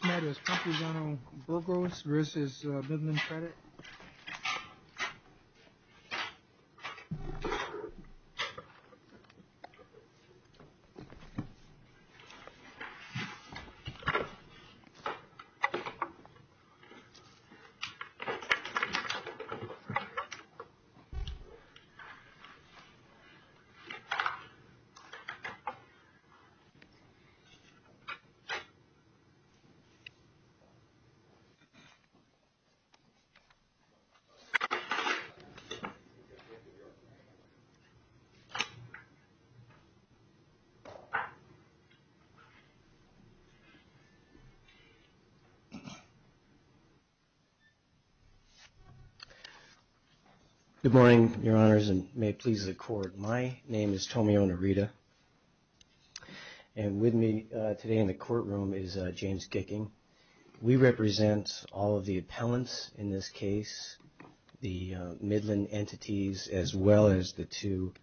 Tomatoes, Campuzano-Burgos v. Midland Credit Good morning, Your Honors, and may it please the Court, my name is Tomio Narita. And with me today in the courtroom is James Gicking. We represent all of the appellants in this case, the Midland entities, as well as the two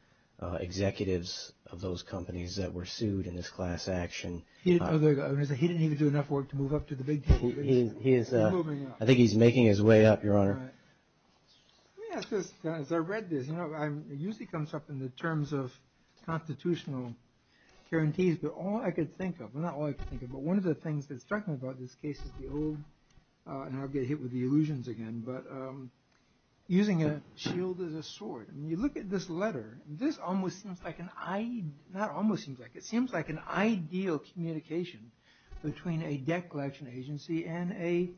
executives of those companies that were sued in this class action. He didn't even do enough work to move up to the big table. Let me ask this. As I read this, it usually comes up in the terms of constitutional guarantees, but all I could think of, well, not all I could think of, but one of the things that struck me about this case is the old, and I'll get hit with the illusions again, but using a shield as a sword. And you look at this letter, and this almost seems like an, not almost seems like, it seems like an ideal communication between a debt collection agency and a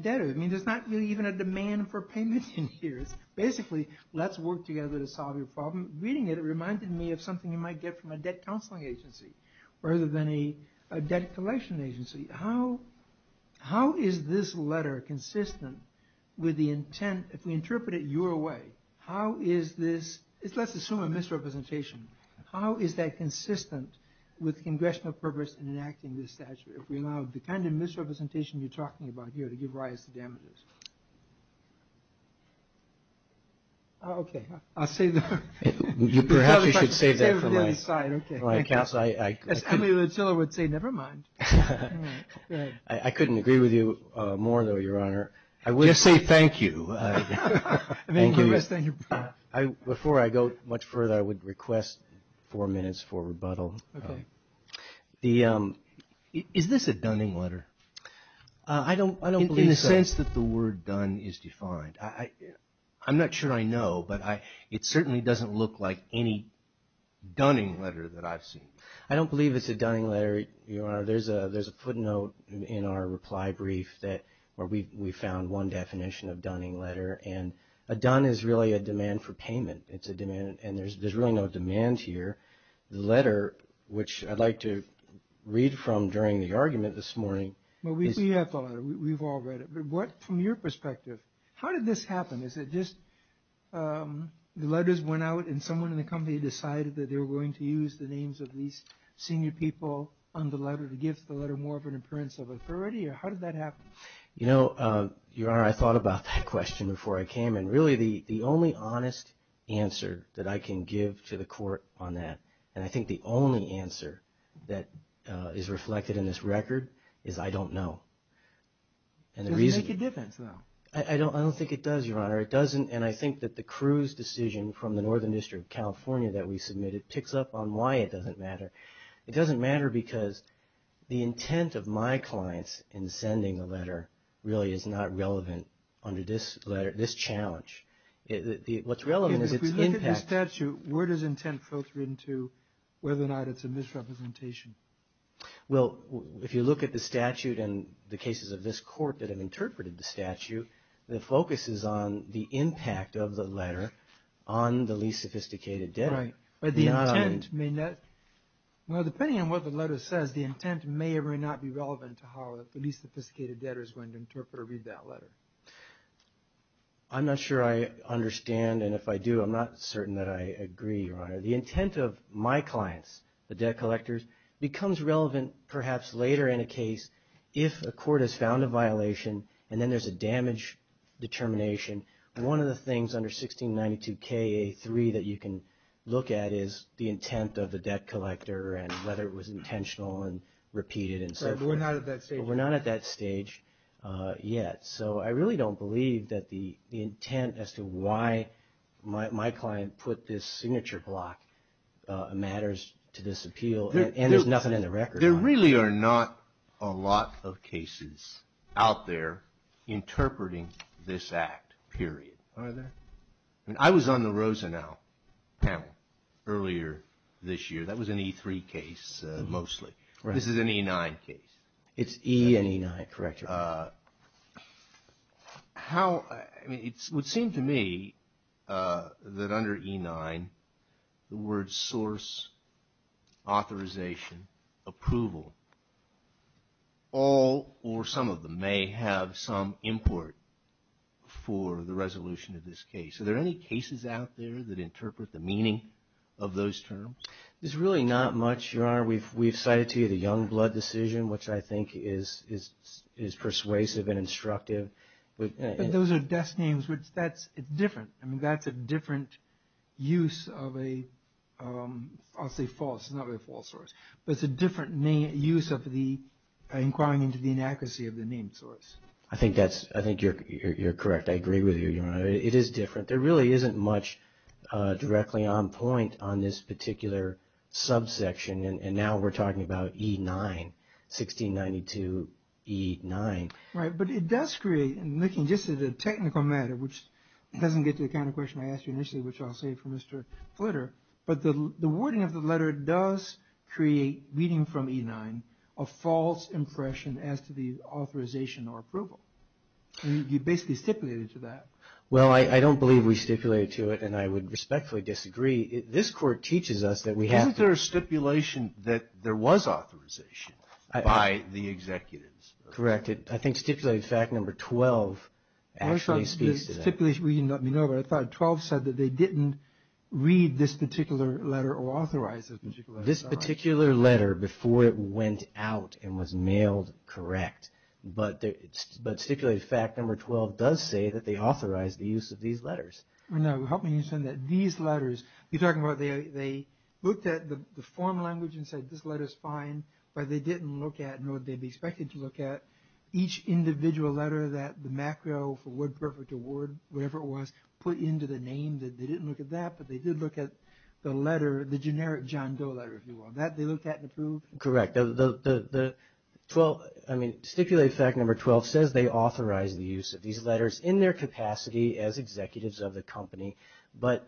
debtor. I mean, there's not really even a demand for payment in here. It's basically, let's work together to solve your problem. Reading it, it reminded me of something you might get from a debt counseling agency, rather than a debt collection agency. How is this letter consistent with the intent, if we interpret it your way, how is this, let's assume a misrepresentation, how is that consistent with congressional purpose in enacting this statute, if we allow the kind of misrepresentation you're talking about here to give rise to damages? Okay. I'll save that. Perhaps you should save that for my accounts. As Emily Luchilla would say, never mind. I couldn't agree with you more, though, Your Honor. Just say thank you. Before I go much further, I would request four minutes for rebuttal. Okay. Is this a dunning letter? I don't believe so. In the sense that the word dun is defined. I'm not sure I know, but it certainly doesn't look like any dunning letter that I've seen. I don't believe it's a dunning letter, Your Honor. There's a footnote in our reply brief where we found one definition of dunning letter, and a dun is really a demand for payment. It's a demand, and there's really no demand here. The letter, which I'd like to read from during the argument this morning. Well, we have the letter. We've all read it. But from your perspective, how did this happen? Is it just the letters went out, and someone in the company decided that they were going to use the names of these senior people on the letter to give the letter more of an appearance of authority, or how did that happen? You know, Your Honor, I thought about that question before I came in. Really, the only honest answer that I can give to the court on that, and I think the only answer that is reflected in this record, is I don't know. It doesn't make a difference, though. I don't think it does, Your Honor. It doesn't, and I think that the Cruz decision from the Northern District of California that we submitted picks up on why it doesn't matter. It doesn't matter because the intent of my clients in sending the letter really is not relevant under this letter, this challenge. What's relevant is its impact. If we look at the statute, where does intent filter into whether or not it's a misrepresentation? Well, if you look at the statute and the cases of this court that have interpreted the statute, the focus is on the impact of the letter on the least sophisticated debtor. Right, but the intent may not. Well, depending on what the letter says, the intent may or may not be relevant to how the least sophisticated debtor is going to interpret or read that letter. I'm not sure I understand, and if I do, I'm not certain that I agree, Your Honor. The intent of my clients, the debt collectors, becomes relevant perhaps later in a case if a court has found a violation and then there's a damage determination. One of the things under 1692Ka3 that you can look at is the intent of the debt collector and whether it was intentional and repeated and so forth. But we're not at that stage. We're not at that stage yet. So I really don't believe that the intent as to why my client put this signature block matters to this appeal, and there's nothing in the record on it. There really are not a lot of cases out there interpreting this act, period. Are there? I was on the Rosenow panel earlier this year. That was an E3 case mostly. This is an E9 case. It's E and E9. Correct. It would seem to me that under E9, the words source, authorization, approval, all or some of them may have some import for the resolution of this case. Are there any cases out there that interpret the meaning of those terms? There's really not much, Your Honor. We've cited to you the Youngblood decision, which I think is persuasive and instructive. But those are desk names. It's different. I mean, that's a different use of a, I'll say false. It's not really a false source. But it's a different use of inquiring into the inaccuracy of the name source. I think you're correct. I agree with you, Your Honor. It is different. There really isn't much directly on point on this particular subsection, and now we're talking about E9, 1692 E9. Right, but it does create, looking just at the technical matter, which doesn't get to the kind of question I asked you initially, which I'll save for Mr. Flitter, but the wording of the letter does create, reading from E9, a false impression as to the authorization or approval. You basically stipulated to that. Well, I don't believe we stipulated to it, and I would respectfully disagree. This Court teaches us that we have to. Wasn't there a stipulation that there was authorization by the executives? Correct. I think stipulated fact number 12 actually speaks to that. I thought 12 said that they didn't read this particular letter or authorize this particular letter. This particular letter, before it went out and was mailed, correct. But stipulated fact number 12 does say that they authorized the use of these letters. Now, help me understand that. These letters, you're talking about they looked at the form language and said this letter's fine, but they didn't look at what they'd be expected to look at. Each individual letter that the macro for WordPerfect or Word, whatever it was, put into the name, they didn't look at that, but they did look at the letter, the generic John Doe letter, if you will. That they looked at and approved? Correct. Stipulated fact number 12 says they authorized the use of these letters in their capacity as executives of the company, but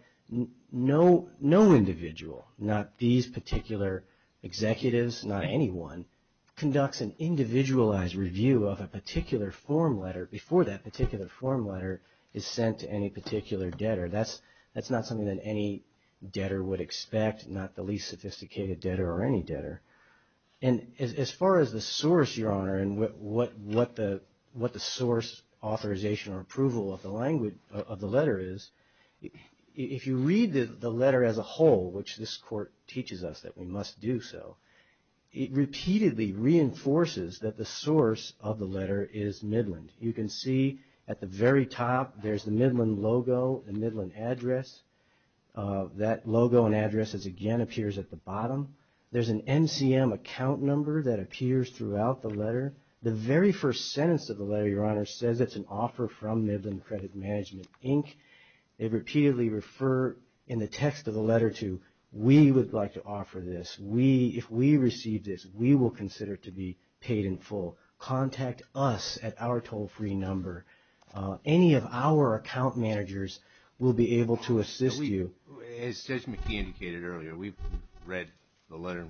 no individual, not these particular executives, not anyone, conducts an individualized review of a particular form letter before that particular form letter is sent to any particular debtor. That's not something that any debtor would expect, not the least sophisticated debtor or any debtor. And as far as the source, Your Honor, and what the source authorization or approval of the letter is, if you read the letter as a whole, which this Court teaches us that we must do so, it repeatedly reinforces that the source of the letter is Midland. You can see at the very top there's the Midland logo and Midland address. There's an MCM account number that appears throughout the letter. The very first sentence of the letter, Your Honor, says it's an offer from Midland Credit Management, Inc. They repeatedly refer in the text of the letter to we would like to offer this. If we receive this, we will consider it to be paid in full. Contact us at our toll-free number. Any of our account managers will be able to assist you. As Judge McKee indicated earlier, we've read the letter.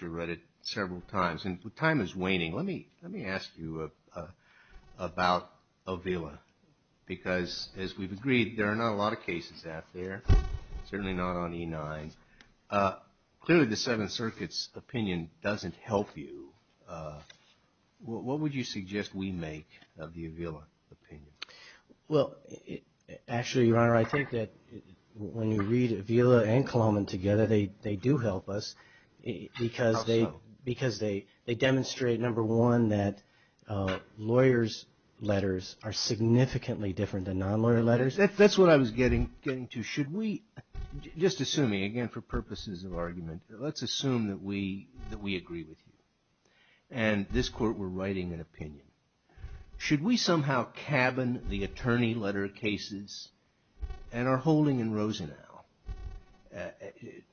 We've read it several times, and time is waning. Let me ask you about Avila because, as we've agreed, there are not a lot of cases out there, certainly not on E-9. Clearly, the Seventh Circuit's opinion doesn't help you. What would you suggest we make of the Avila opinion? Well, actually, Your Honor, I think that when you read Avila and Kahloman together, they do help us. How so? Because they demonstrate, number one, that lawyers' letters are significantly different than non-lawyer letters. That's what I was getting to. Should we, just assuming, again for purposes of argument, let's assume that we agree with you and this Court were writing an opinion. Should we somehow cabin the attorney letter cases and our holding in Rosenau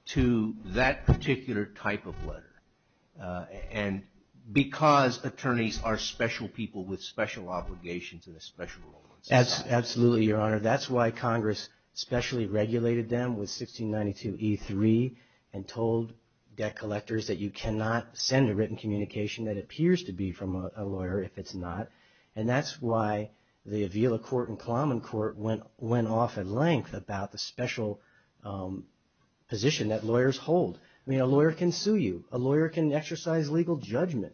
to that particular type of letter? And because attorneys are special people with special obligations and a special role in society. Absolutely, Your Honor. That's why Congress specially regulated them with 1692 E-3 and told debt collectors that you cannot send a written communication that appears to be from a lawyer if it's not. And that's why the Avila court and Kahloman court went off at length about the special position that lawyers hold. I mean, a lawyer can sue you. A lawyer can exercise legal judgment.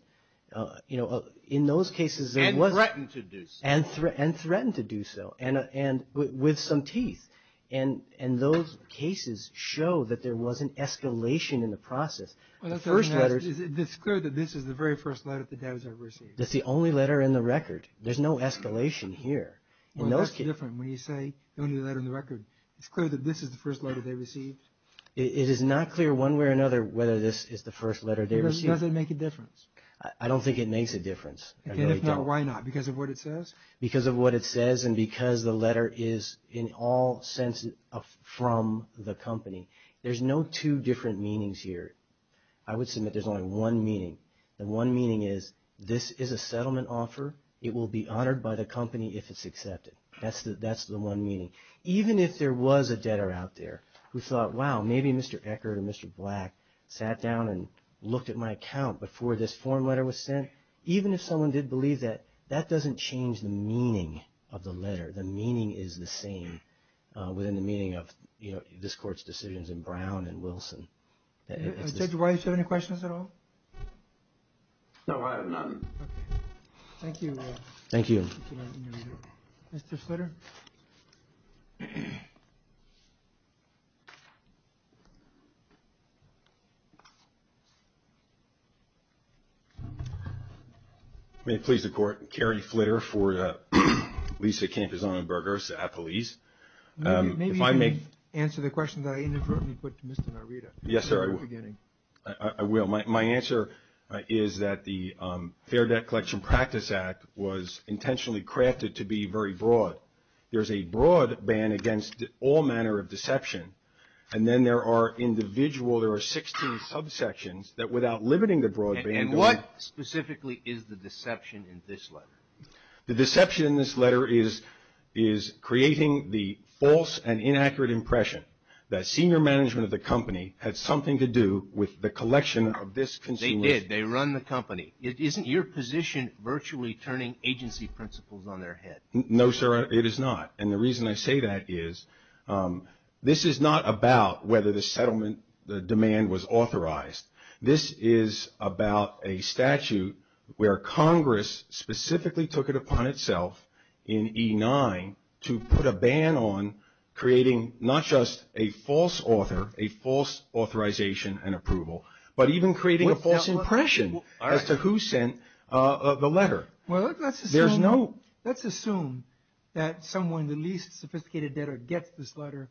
You know, in those cases there wasn't. And threaten to do so. And threaten to do so. And with some teeth. And those cases show that there was an escalation in the process. It's clear that this is the very first letter the debtors have received. It's the only letter in the record. There's no escalation here. That's different when you say the only letter in the record. It's clear that this is the first letter they received. It is not clear one way or another whether this is the first letter they received. Does it make a difference? I don't think it makes a difference. If not, why not? Because of what it says? Because of what it says and because the letter is in all sense from the company. There's no two different meanings here. I would submit there's only one meaning. The one meaning is this is a settlement offer. It will be honored by the company if it's accepted. That's the one meaning. Even if there was a debtor out there who thought, wow, maybe Mr. Eckert or Mr. Black sat down and looked at my account before this form letter was sent. Even if someone did believe that, that doesn't change the meaning of the letter. The meaning is the same within the meaning of this court's decisions in Brown and Wilson. Judge White, do you have any questions at all? No, I have none. Thank you. Thank you. Mr. Flitter? May it please the Court, Kerry Flitter for Lisa Campison-Bergers at Police. Maybe you can answer the question that I inadvertently put to Mr. Narita. Yes, sir, I will. I will. My answer is that the Fair Debt Collection Practice Act was intentionally crafted to be very broad. There's a broad ban against all manner of deception. And then there are individual, there are 16 subsections that without limiting the broad ban. And what specifically is the deception in this letter? The deception in this letter is creating the false and inaccurate impression that senior management of the company had something to do with the collection of this consumer. They did. They run the company. Isn't your position virtually turning agency principles on their head? No, sir, it is not. And the reason I say that is this is not about whether the settlement, the demand was authorized. This is about a statute where Congress specifically took it upon itself in E9 to put a ban on creating not just a false author, a false authorization and approval, but even creating a false impression as to who sent the letter. Well, let's assume that someone, the least sophisticated debtor, gets this letter,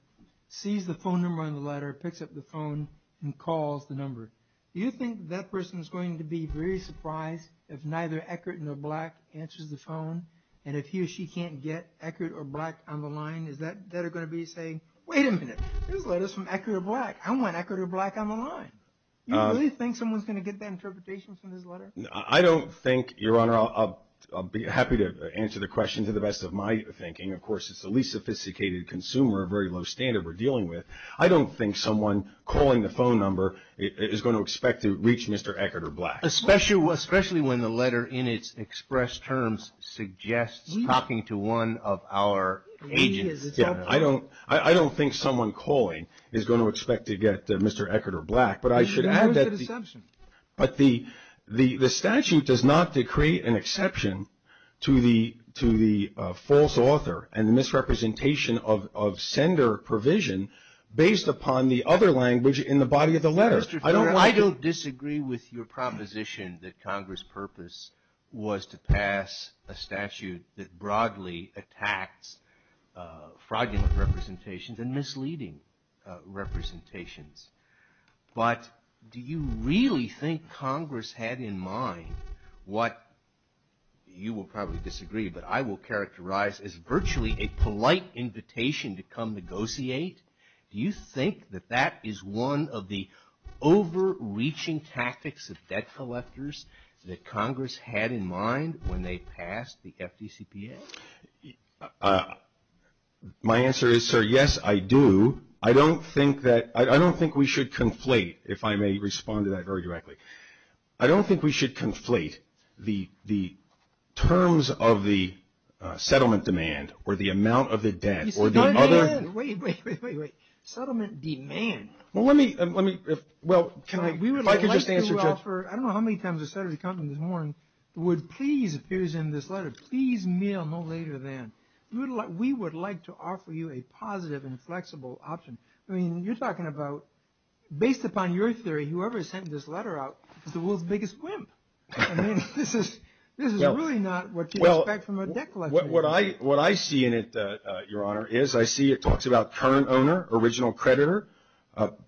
sees the phone number on the letter, picks up the phone and calls the number. Do you think that person is going to be very surprised if neither Eckert nor Black answers the phone? And if he or she can't get Eckert or Black on the line, is that debtor going to be saying, wait a minute, this letter is from Eckert or Black. I want Eckert or Black on the line. Do you really think someone is going to get that interpretation from this letter? I don't think, Your Honor, I'll be happy to answer the question to the best of my thinking. Of course, it's the least sophisticated consumer, a very low standard we're dealing with. I don't think someone calling the phone number is going to expect to reach Mr. Eckert or Black. Especially when the letter in its expressed terms suggests talking to one of our agents. I don't think someone calling is going to expect to get Mr. Eckert or Black. But I should add that the statute does not decree an exception to the false author and misrepresentation of sender provision based upon the other language in the body of the letter. I don't disagree with your proposition that Congress' purpose was to pass a statute that broadly attacks fraudulent representations and misleading representations. But do you really think Congress had in mind what you will probably disagree, but I will characterize as virtually a polite invitation to come negotiate? Do you think that that is one of the overreaching tactics of debt collectors that Congress had in mind when they passed the FDCPA? My answer is, sir, yes, I do. I don't think we should conflate, if I may respond to that very directly. I don't think we should conflate the terms of the settlement demand or the amount of the debt. Wait, wait, wait, wait. Settlement demand? Well, let me, well, if I could just answer, Jeff. We would like to offer, I don't know how many times this letter has come in this morning, the word please appears in this letter, please mail no later than. We would like to offer you a positive and flexible option. I mean, you're talking about, based upon your theory, whoever sent this letter out is the world's biggest wimp. I mean, this is really not what you expect from a debt collector. What I see in it, Your Honor, is I see it talks about current owner, original creditor,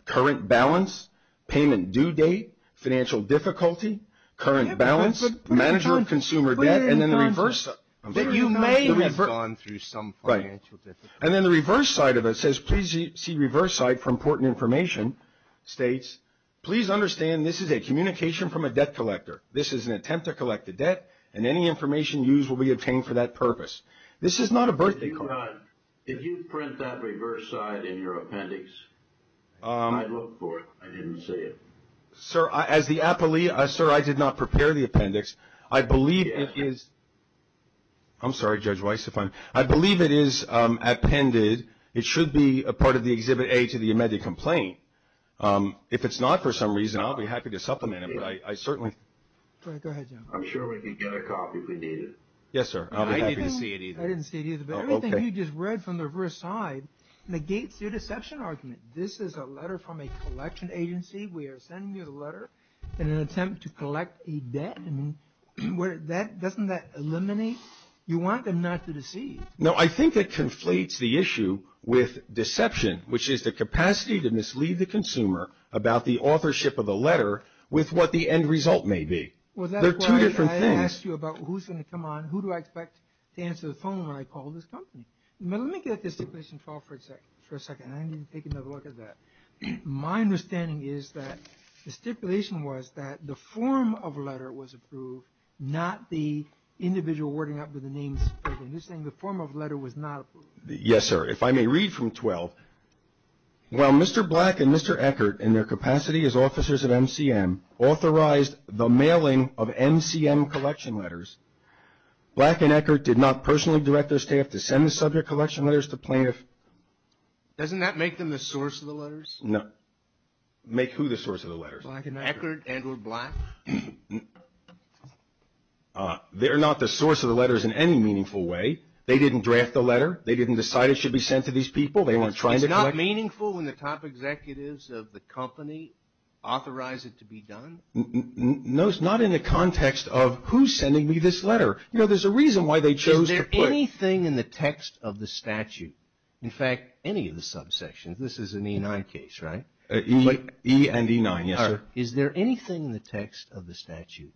current balance, payment due date, financial difficulty, current balance, manager of consumer debt, and then the reverse. You may have gone through some financial difficulty. Right. And then the reverse side of it says, please see reverse side for important information, states, please understand this is a communication from a debt collector. This is an attempt to collect a debt, and any information used will be obtained for that purpose. This is not a birthday card. If you print that reverse side in your appendix, I'd look for it. I didn't see it. Sir, as the appellee, sir, I did not prepare the appendix. I believe it is, I'm sorry, Judge Weiss, if I'm, I believe it is appended. It should be a part of the Exhibit A to the amended complaint. If it's not for some reason, I'll be happy to supplement it, but I certainly. Go ahead, Your Honor. I'm sure we can get a copy if we need it. Yes, sir. I'll be happy to see it either. I didn't see it either, but everything you just read from the reverse side negates your deception argument. This is a letter from a collection agency. We are sending you the letter in an attempt to collect a debt. Doesn't that eliminate, you want them not to deceive. No, I think it conflates the issue with deception, which is the capacity to mislead the consumer about the authorship of the letter with what the end result may be. There are two different things. Well, that's why I asked you about who's going to come on, who do I expect to answer the phone when I call this company. But let me get at the stipulation for a second. I need to take another look at that. My understanding is that the stipulation was that the form of a letter was approved, not the individual wording up with the names. You're saying the form of a letter was not approved. Yes, sir. If I may read from 12. While Mr. Black and Mr. Eckert, in their capacity as officers of MCM, authorized the mailing of MCM collection letters, Black and Eckert did not personally direct their staff to send the subject collection letters to plaintiffs. Doesn't that make them the source of the letters? No. Make who the source of the letters? Black and Eckert. Eckert, Edward Black. They're not the source of the letters in any meaningful way. They didn't draft the letter. They didn't decide it should be sent to these people. They weren't trying to collect it. It's not meaningful when the top executives of the company authorize it to be done? No, it's not in the context of who's sending me this letter. You know, there's a reason why they chose to put it. Is there anything in the text of the statute, in fact, any of the subsections? This is an E9 case, right? E and E9, yes, sir. Is there anything in the text of the statute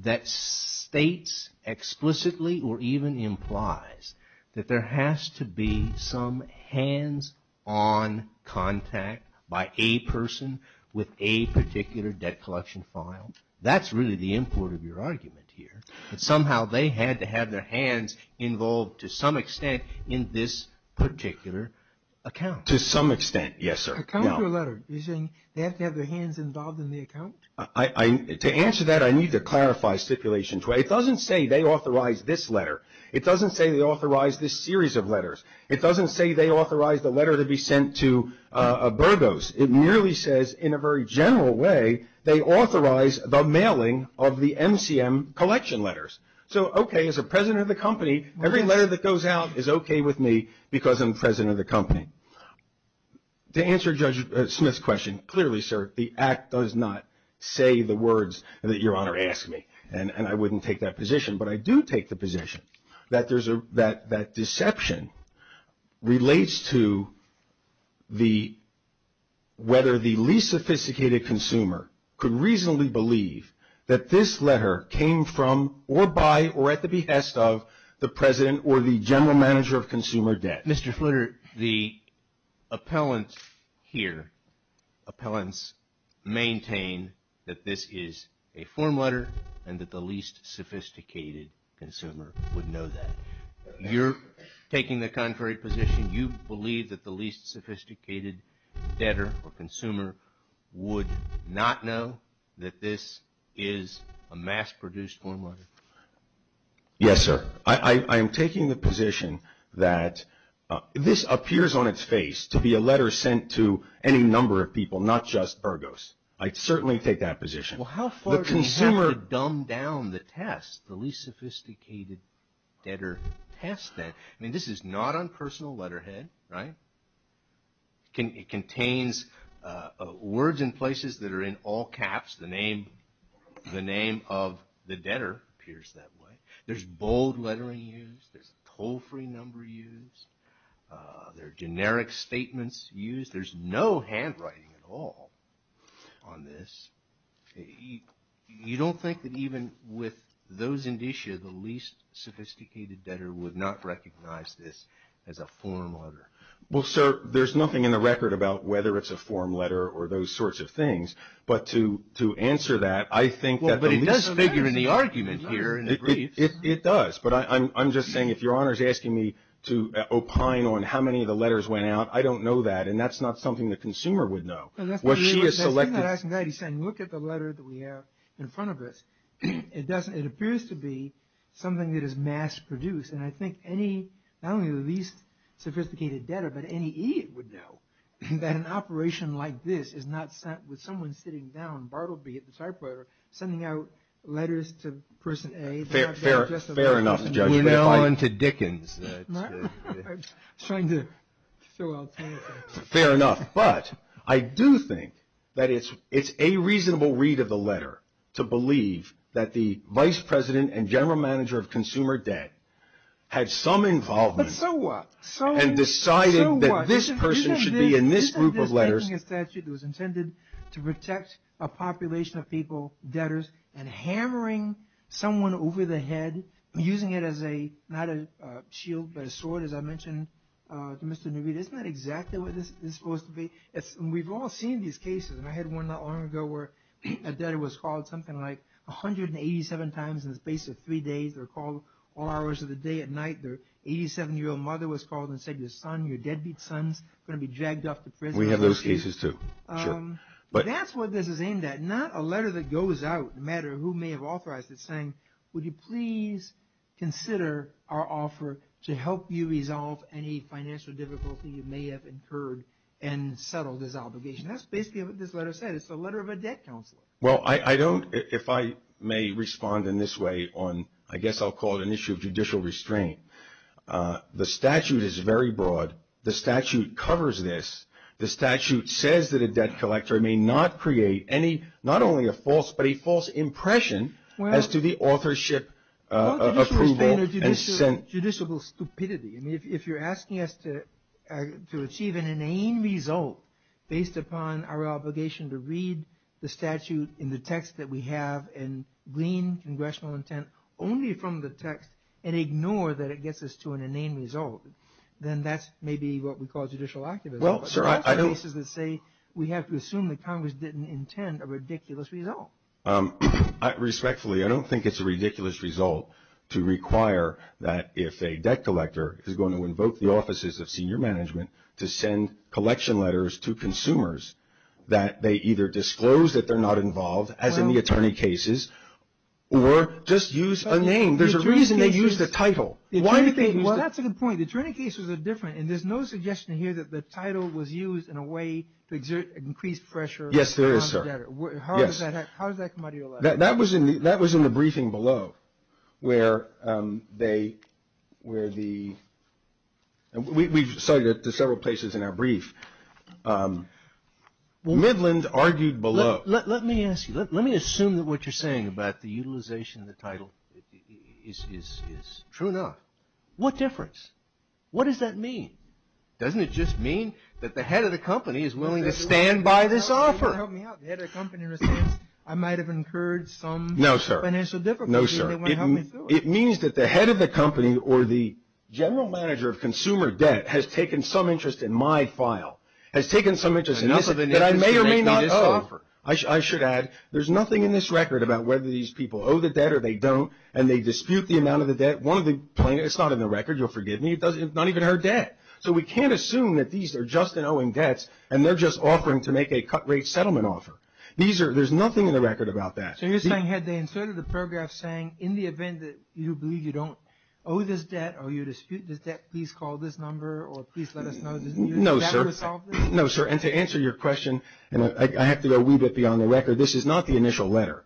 that states explicitly or even implies that there has to be some hands-on contact by a person with a particular debt collection file? That's really the import of your argument here. Somehow they had to have their hands involved to some extent in this particular account. To some extent, yes, sir. To account for a letter, you're saying they have to have their hands involved in the account? To answer that, I need to clarify stipulations. It doesn't say they authorized this letter. It doesn't say they authorized this series of letters. It doesn't say they authorized the letter to be sent to Burgos. It merely says, in a very general way, they authorized the mailing of the MCM collection letters. So, okay, as a president of the company, every letter that goes out is okay with me because I'm president of the company. To answer Judge Smith's question, clearly, sir, the Act does not say the words that Your Honor asked me, and I wouldn't take that position. But I do take the position that that deception relates to whether the least sophisticated consumer could reasonably believe that this letter came from or by or at the behest of the president or the general manager of consumer debt. Mr. Flitter, the appellant here, appellants maintain that this is a form letter and that the least sophisticated consumer would know that. You're taking the contrary position. You believe that the least sophisticated debtor or consumer would not know that this is a mass-produced form letter. Yes, sir. I am taking the position that this appears on its face to be a letter sent to any number of people, not just Burgos. I certainly take that position. Well, how far do we have to dumb down the test, the least sophisticated debtor test then? I mean, this is not on personal letterhead, right? It contains words and places that are in all caps. The name of the debtor appears that way. There's bold lettering used. There's a toll-free number used. There are generic statements used. There's no handwriting at all on this. You don't think that even with those indicia, the least sophisticated debtor would not recognize this as a form letter? Well, sir, there's nothing in the record about whether it's a form letter or those sorts of things. But to answer that, I think that the least sophisticated debtor – Well, but it does figure in the argument here in the brief. It does. But I'm just saying if Your Honor is asking me to opine on how many of the letters went out, I don't know that. And that's not something the consumer would know. What she has selected – That's not asking that. He's saying look at the letter that we have in front of us. It appears to be something that is mass-produced. And I think any – not only the least sophisticated debtor, but any idiot would know that an operation like this is not sent with someone sitting down, Bartleby at the typewriter, sending out letters to person A. Fair enough, Judge. We're now into Dickens. I was trying to throw out something. Fair enough. But I do think that it's a reasonable read of the letter to believe that the Vice President and General Manager of Consumer Debt had some involvement. But so what? And decided that this person should be in this group of letters. You said this was taking a statute that was intended to protect a population of people, debtors, and hammering someone over the head, using it as a – not a shield, but a sword, as I mentioned to Mr. Navid. Isn't that exactly what this is supposed to be? We've all seen these cases. And I had one not long ago where a debtor was called something like 187 times in the space of three days. They're called all hours of the day and night. Their 87-year-old mother was called and said your son, your deadbeat son, is going to be dragged off to prison. We have those cases, too. Sure. But that's what this is aimed at. It's not a letter that goes out, no matter who may have authorized it, saying, would you please consider our offer to help you resolve any financial difficulty you may have incurred and settle this obligation. That's basically what this letter said. It's the letter of a debt counselor. Well, I don't – if I may respond in this way on – I guess I'll call it an issue of judicial restraint. The statute is very broad. The statute covers this. The statute says that a debt collector may not create any – not only a false, but a false impression as to the authorship approval. Well, judicial restraint or judicial stupidity. I mean, if you're asking us to achieve an inane result based upon our obligation to read the statute in the text that we have and glean congressional intent only from the text and ignore that it gets us to an inane result, then that's maybe what we call judicial activism. Well, sir, I don't – Well, there are cases that say we have to assume that Congress didn't intend a ridiculous result. Respectfully, I don't think it's a ridiculous result to require that if a debt collector is going to invoke the offices of senior management to send collection letters to consumers that they either disclose that they're not involved, as in the attorney cases, or just use a name. There's a reason they use the title. Why do they use the – Well, that's a good point. The attorney cases are different, and there's no suggestion here that the title was used in a way to exert increased pressure on the debtor. Yes, there is, sir. Yes. How does that come out of your lap? That was in the briefing below where they – where the – we cited it to several places in our brief. Midland argued below. Let me ask you. Let me assume that what you're saying about the utilization of the title is – True enough. What difference? What does that mean? Doesn't it just mean that the head of the company is willing to stand by this offer? No, sir. It means that the head of the company or the general manager of consumer debt has taken some interest in my file, has taken some interest in this, that I may or may not owe. I should add there's nothing in this record about whether these people owe the debt or they don't, and they dispute the amount of the debt. One of the – it's not in the record. You'll forgive me. It's not even her debt. So we can't assume that these are just in owing debts, and they're just offering to make a cut-rate settlement offer. These are – there's nothing in the record about that. So you're saying had they inserted the paragraph saying, in the event that you believe you don't owe this debt or you dispute this debt, please call this number or please let us know, doesn't that resolve this? No, sir. No, sir, and to answer your question, and I have to go a wee bit beyond the record, this is not the initial letter.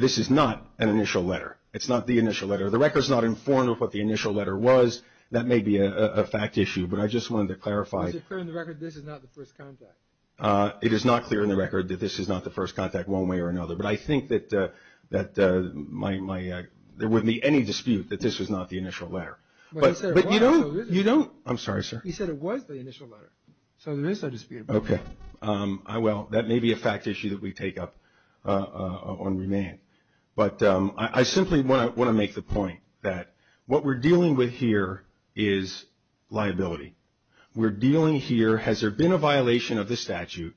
This is not an initial letter. It's not the initial letter. The record's not informed of what the initial letter was. That may be a fact issue, but I just wanted to clarify. Is it clear in the record this is not the first contact? It is not clear in the record that this is not the first contact one way or another, but I think that my – there wouldn't be any dispute that this was not the initial letter. But you don't – you don't – I'm sorry, sir. He said it was the initial letter, so there is no dispute. Okay. Well, that may be a fact issue that we take up on remand. But I simply want to make the point that what we're dealing with here is liability. We're dealing here, has there been a violation of the statute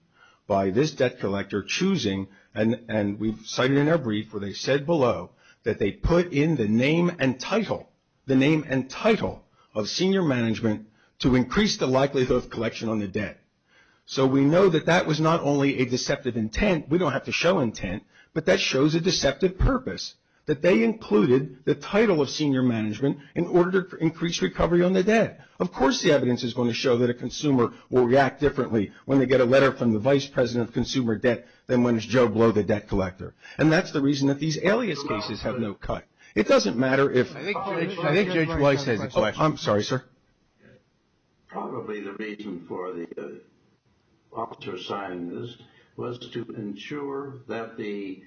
by this debt collector choosing, and we've cited in our brief where they said below that they put in the name and title, the name and title of senior management to increase the likelihood of collection on the debt. So we know that that was not only a deceptive intent. We don't have to show intent, but that shows a deceptive purpose, that they included the title of senior management in order to increase recovery on the debt. Of course the evidence is going to show that a consumer will react differently when they get a letter from the Vice President of Consumer Debt than when it's Joe Blow, the debt collector. And that's the reason that these alias cases have no cut. It doesn't matter if – I think Judge Weiss has a question. I'm sorry, sir. Probably the reason for the officer signing this was to ensure that the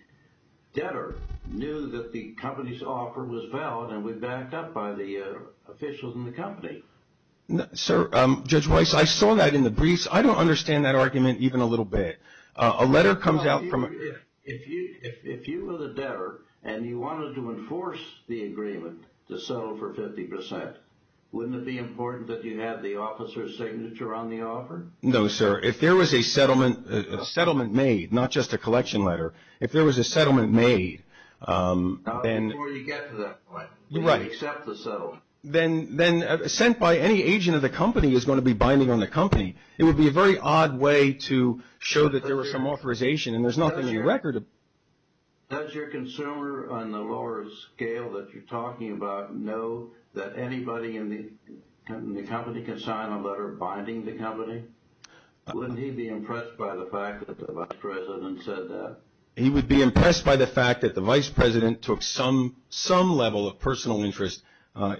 debtor knew that the company's offer was valid and we backed up by the officials in the company. Sir, Judge Weiss, I saw that in the briefs. I don't understand that argument even a little bit. A letter comes out from – If you were the debtor and you wanted to enforce the agreement to settle for 50 percent, wouldn't it be important that you have the officer's signature on the offer? No, sir. If there was a settlement made, not just a collection letter, if there was a settlement made, then – Not before you get to that point. Right. You have to accept the settlement. Then sent by any agent of the company is going to be binding on the company. It would be a very odd way to show that there was some authorization and there's nothing in record. Does your consumer on the lower scale that you're talking about know that anybody in the company can sign a letter binding the company? Wouldn't he be impressed by the fact that the vice president said that? He would be impressed by the fact that the vice president took some level of personal interest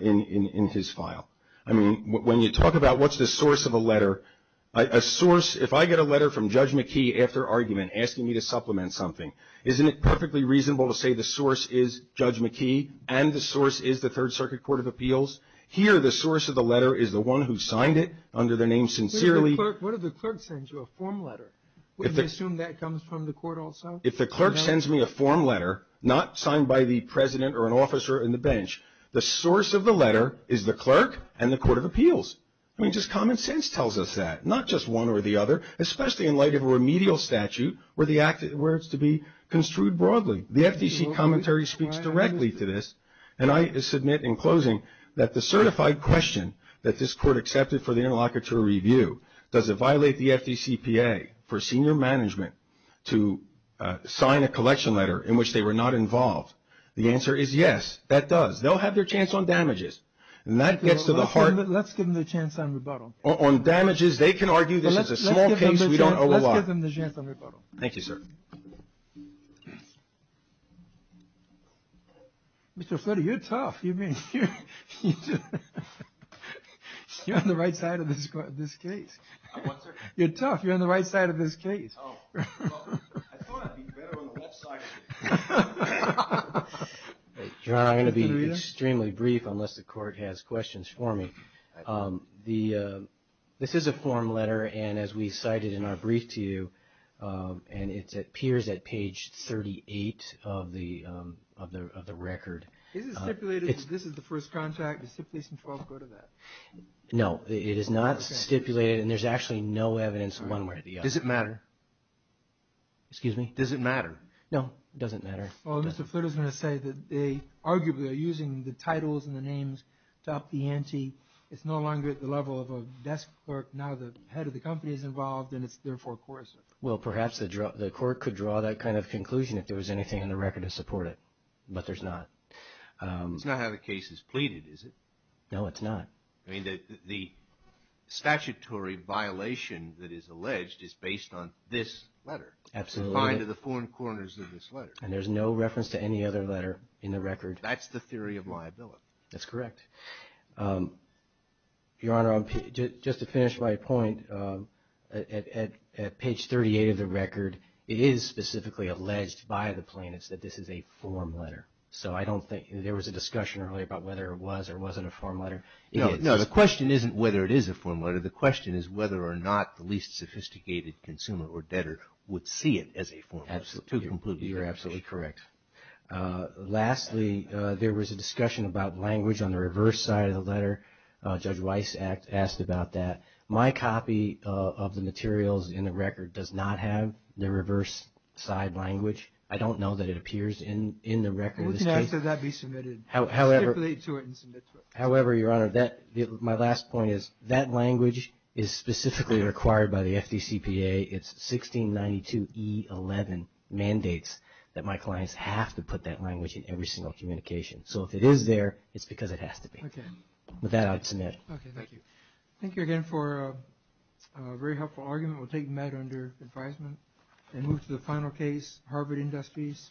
in his file. I mean, when you talk about what's the source of a letter, a source – if I get a letter from Judge McKee after argument asking me to supplement something, isn't it perfectly reasonable to say the source is Judge McKee and the source is the Third Circuit Court of Appeals? Here the source of the letter is the one who signed it under their name sincerely. What if the clerk sends you a form letter? Wouldn't they assume that comes from the court also? If the clerk sends me a form letter, not signed by the president or an officer in the bench, the source of the letter is the clerk and the Court of Appeals. I mean, just common sense tells us that, not just one or the other, especially in light of a remedial statute where it's to be construed broadly. The FDC commentary speaks directly to this. And I submit in closing that the certified question that this court accepted for the interlocutor review, does it violate the FDCPA for senior management to sign a collection letter in which they were not involved? The answer is yes, that does. They'll have their chance on damages. And that gets to the heart. Let's give them the chance on rebuttal. On damages, they can argue this is a small case. We don't owe a lot. Let's give them the chance on rebuttal. Thank you, sir. Mr. Flitty, you're tough. You're on the right side of this case. You're tough. You're on the right side of this case. I thought I'd be better on the left side. John, I'm going to be extremely brief unless the court has questions for me. This is a form letter, and as we cited in our brief to you, and it appears at page 38 of the record. Is it stipulated that this is the first contract? Does 512 go to that? No, it is not stipulated. And there's actually no evidence one way or the other. Does it matter? Excuse me? Does it matter? No, it doesn't matter. Well, Mr. Flitty is going to say that they arguably are using the titles and the names to up the ante. It's no longer at the level of a desk clerk. Now the head of the company is involved, and it's therefore coercive. Well, perhaps the court could draw that kind of conclusion if there was anything in the record to support it, but there's not. It's not how the case is pleaded, is it? No, it's not. I mean, the statutory violation that is alleged is based on this letter. Absolutely. And there's no reference to any other letter in the record. That's the theory of liability. That's correct. Your Honor, just to finish my point, at page 38 of the record, it is specifically alleged by the plaintiffs that this is a form letter. So I don't think there was a discussion earlier about whether it was or wasn't a form letter. No, the question isn't whether it is a form letter. The question is whether or not the least sophisticated consumer or debtor would see it as a form letter. You're absolutely correct. Lastly, there was a discussion about language on the reverse side of the letter. Judge Weiss asked about that. My copy of the materials in the record does not have the reverse side language. I don't know that it appears in the record. How can that be submitted? However, Your Honor, my last point is that language is specifically required by the FDCPA. It's 1692E11 mandates that my clients have to put that language in every single communication. So if it is there, it's because it has to be. Okay. With that, I'll submit it. Okay, thank you. Thank you again for a very helpful argument. We'll take Matt under advisement and move to the final case, Harvard Industries.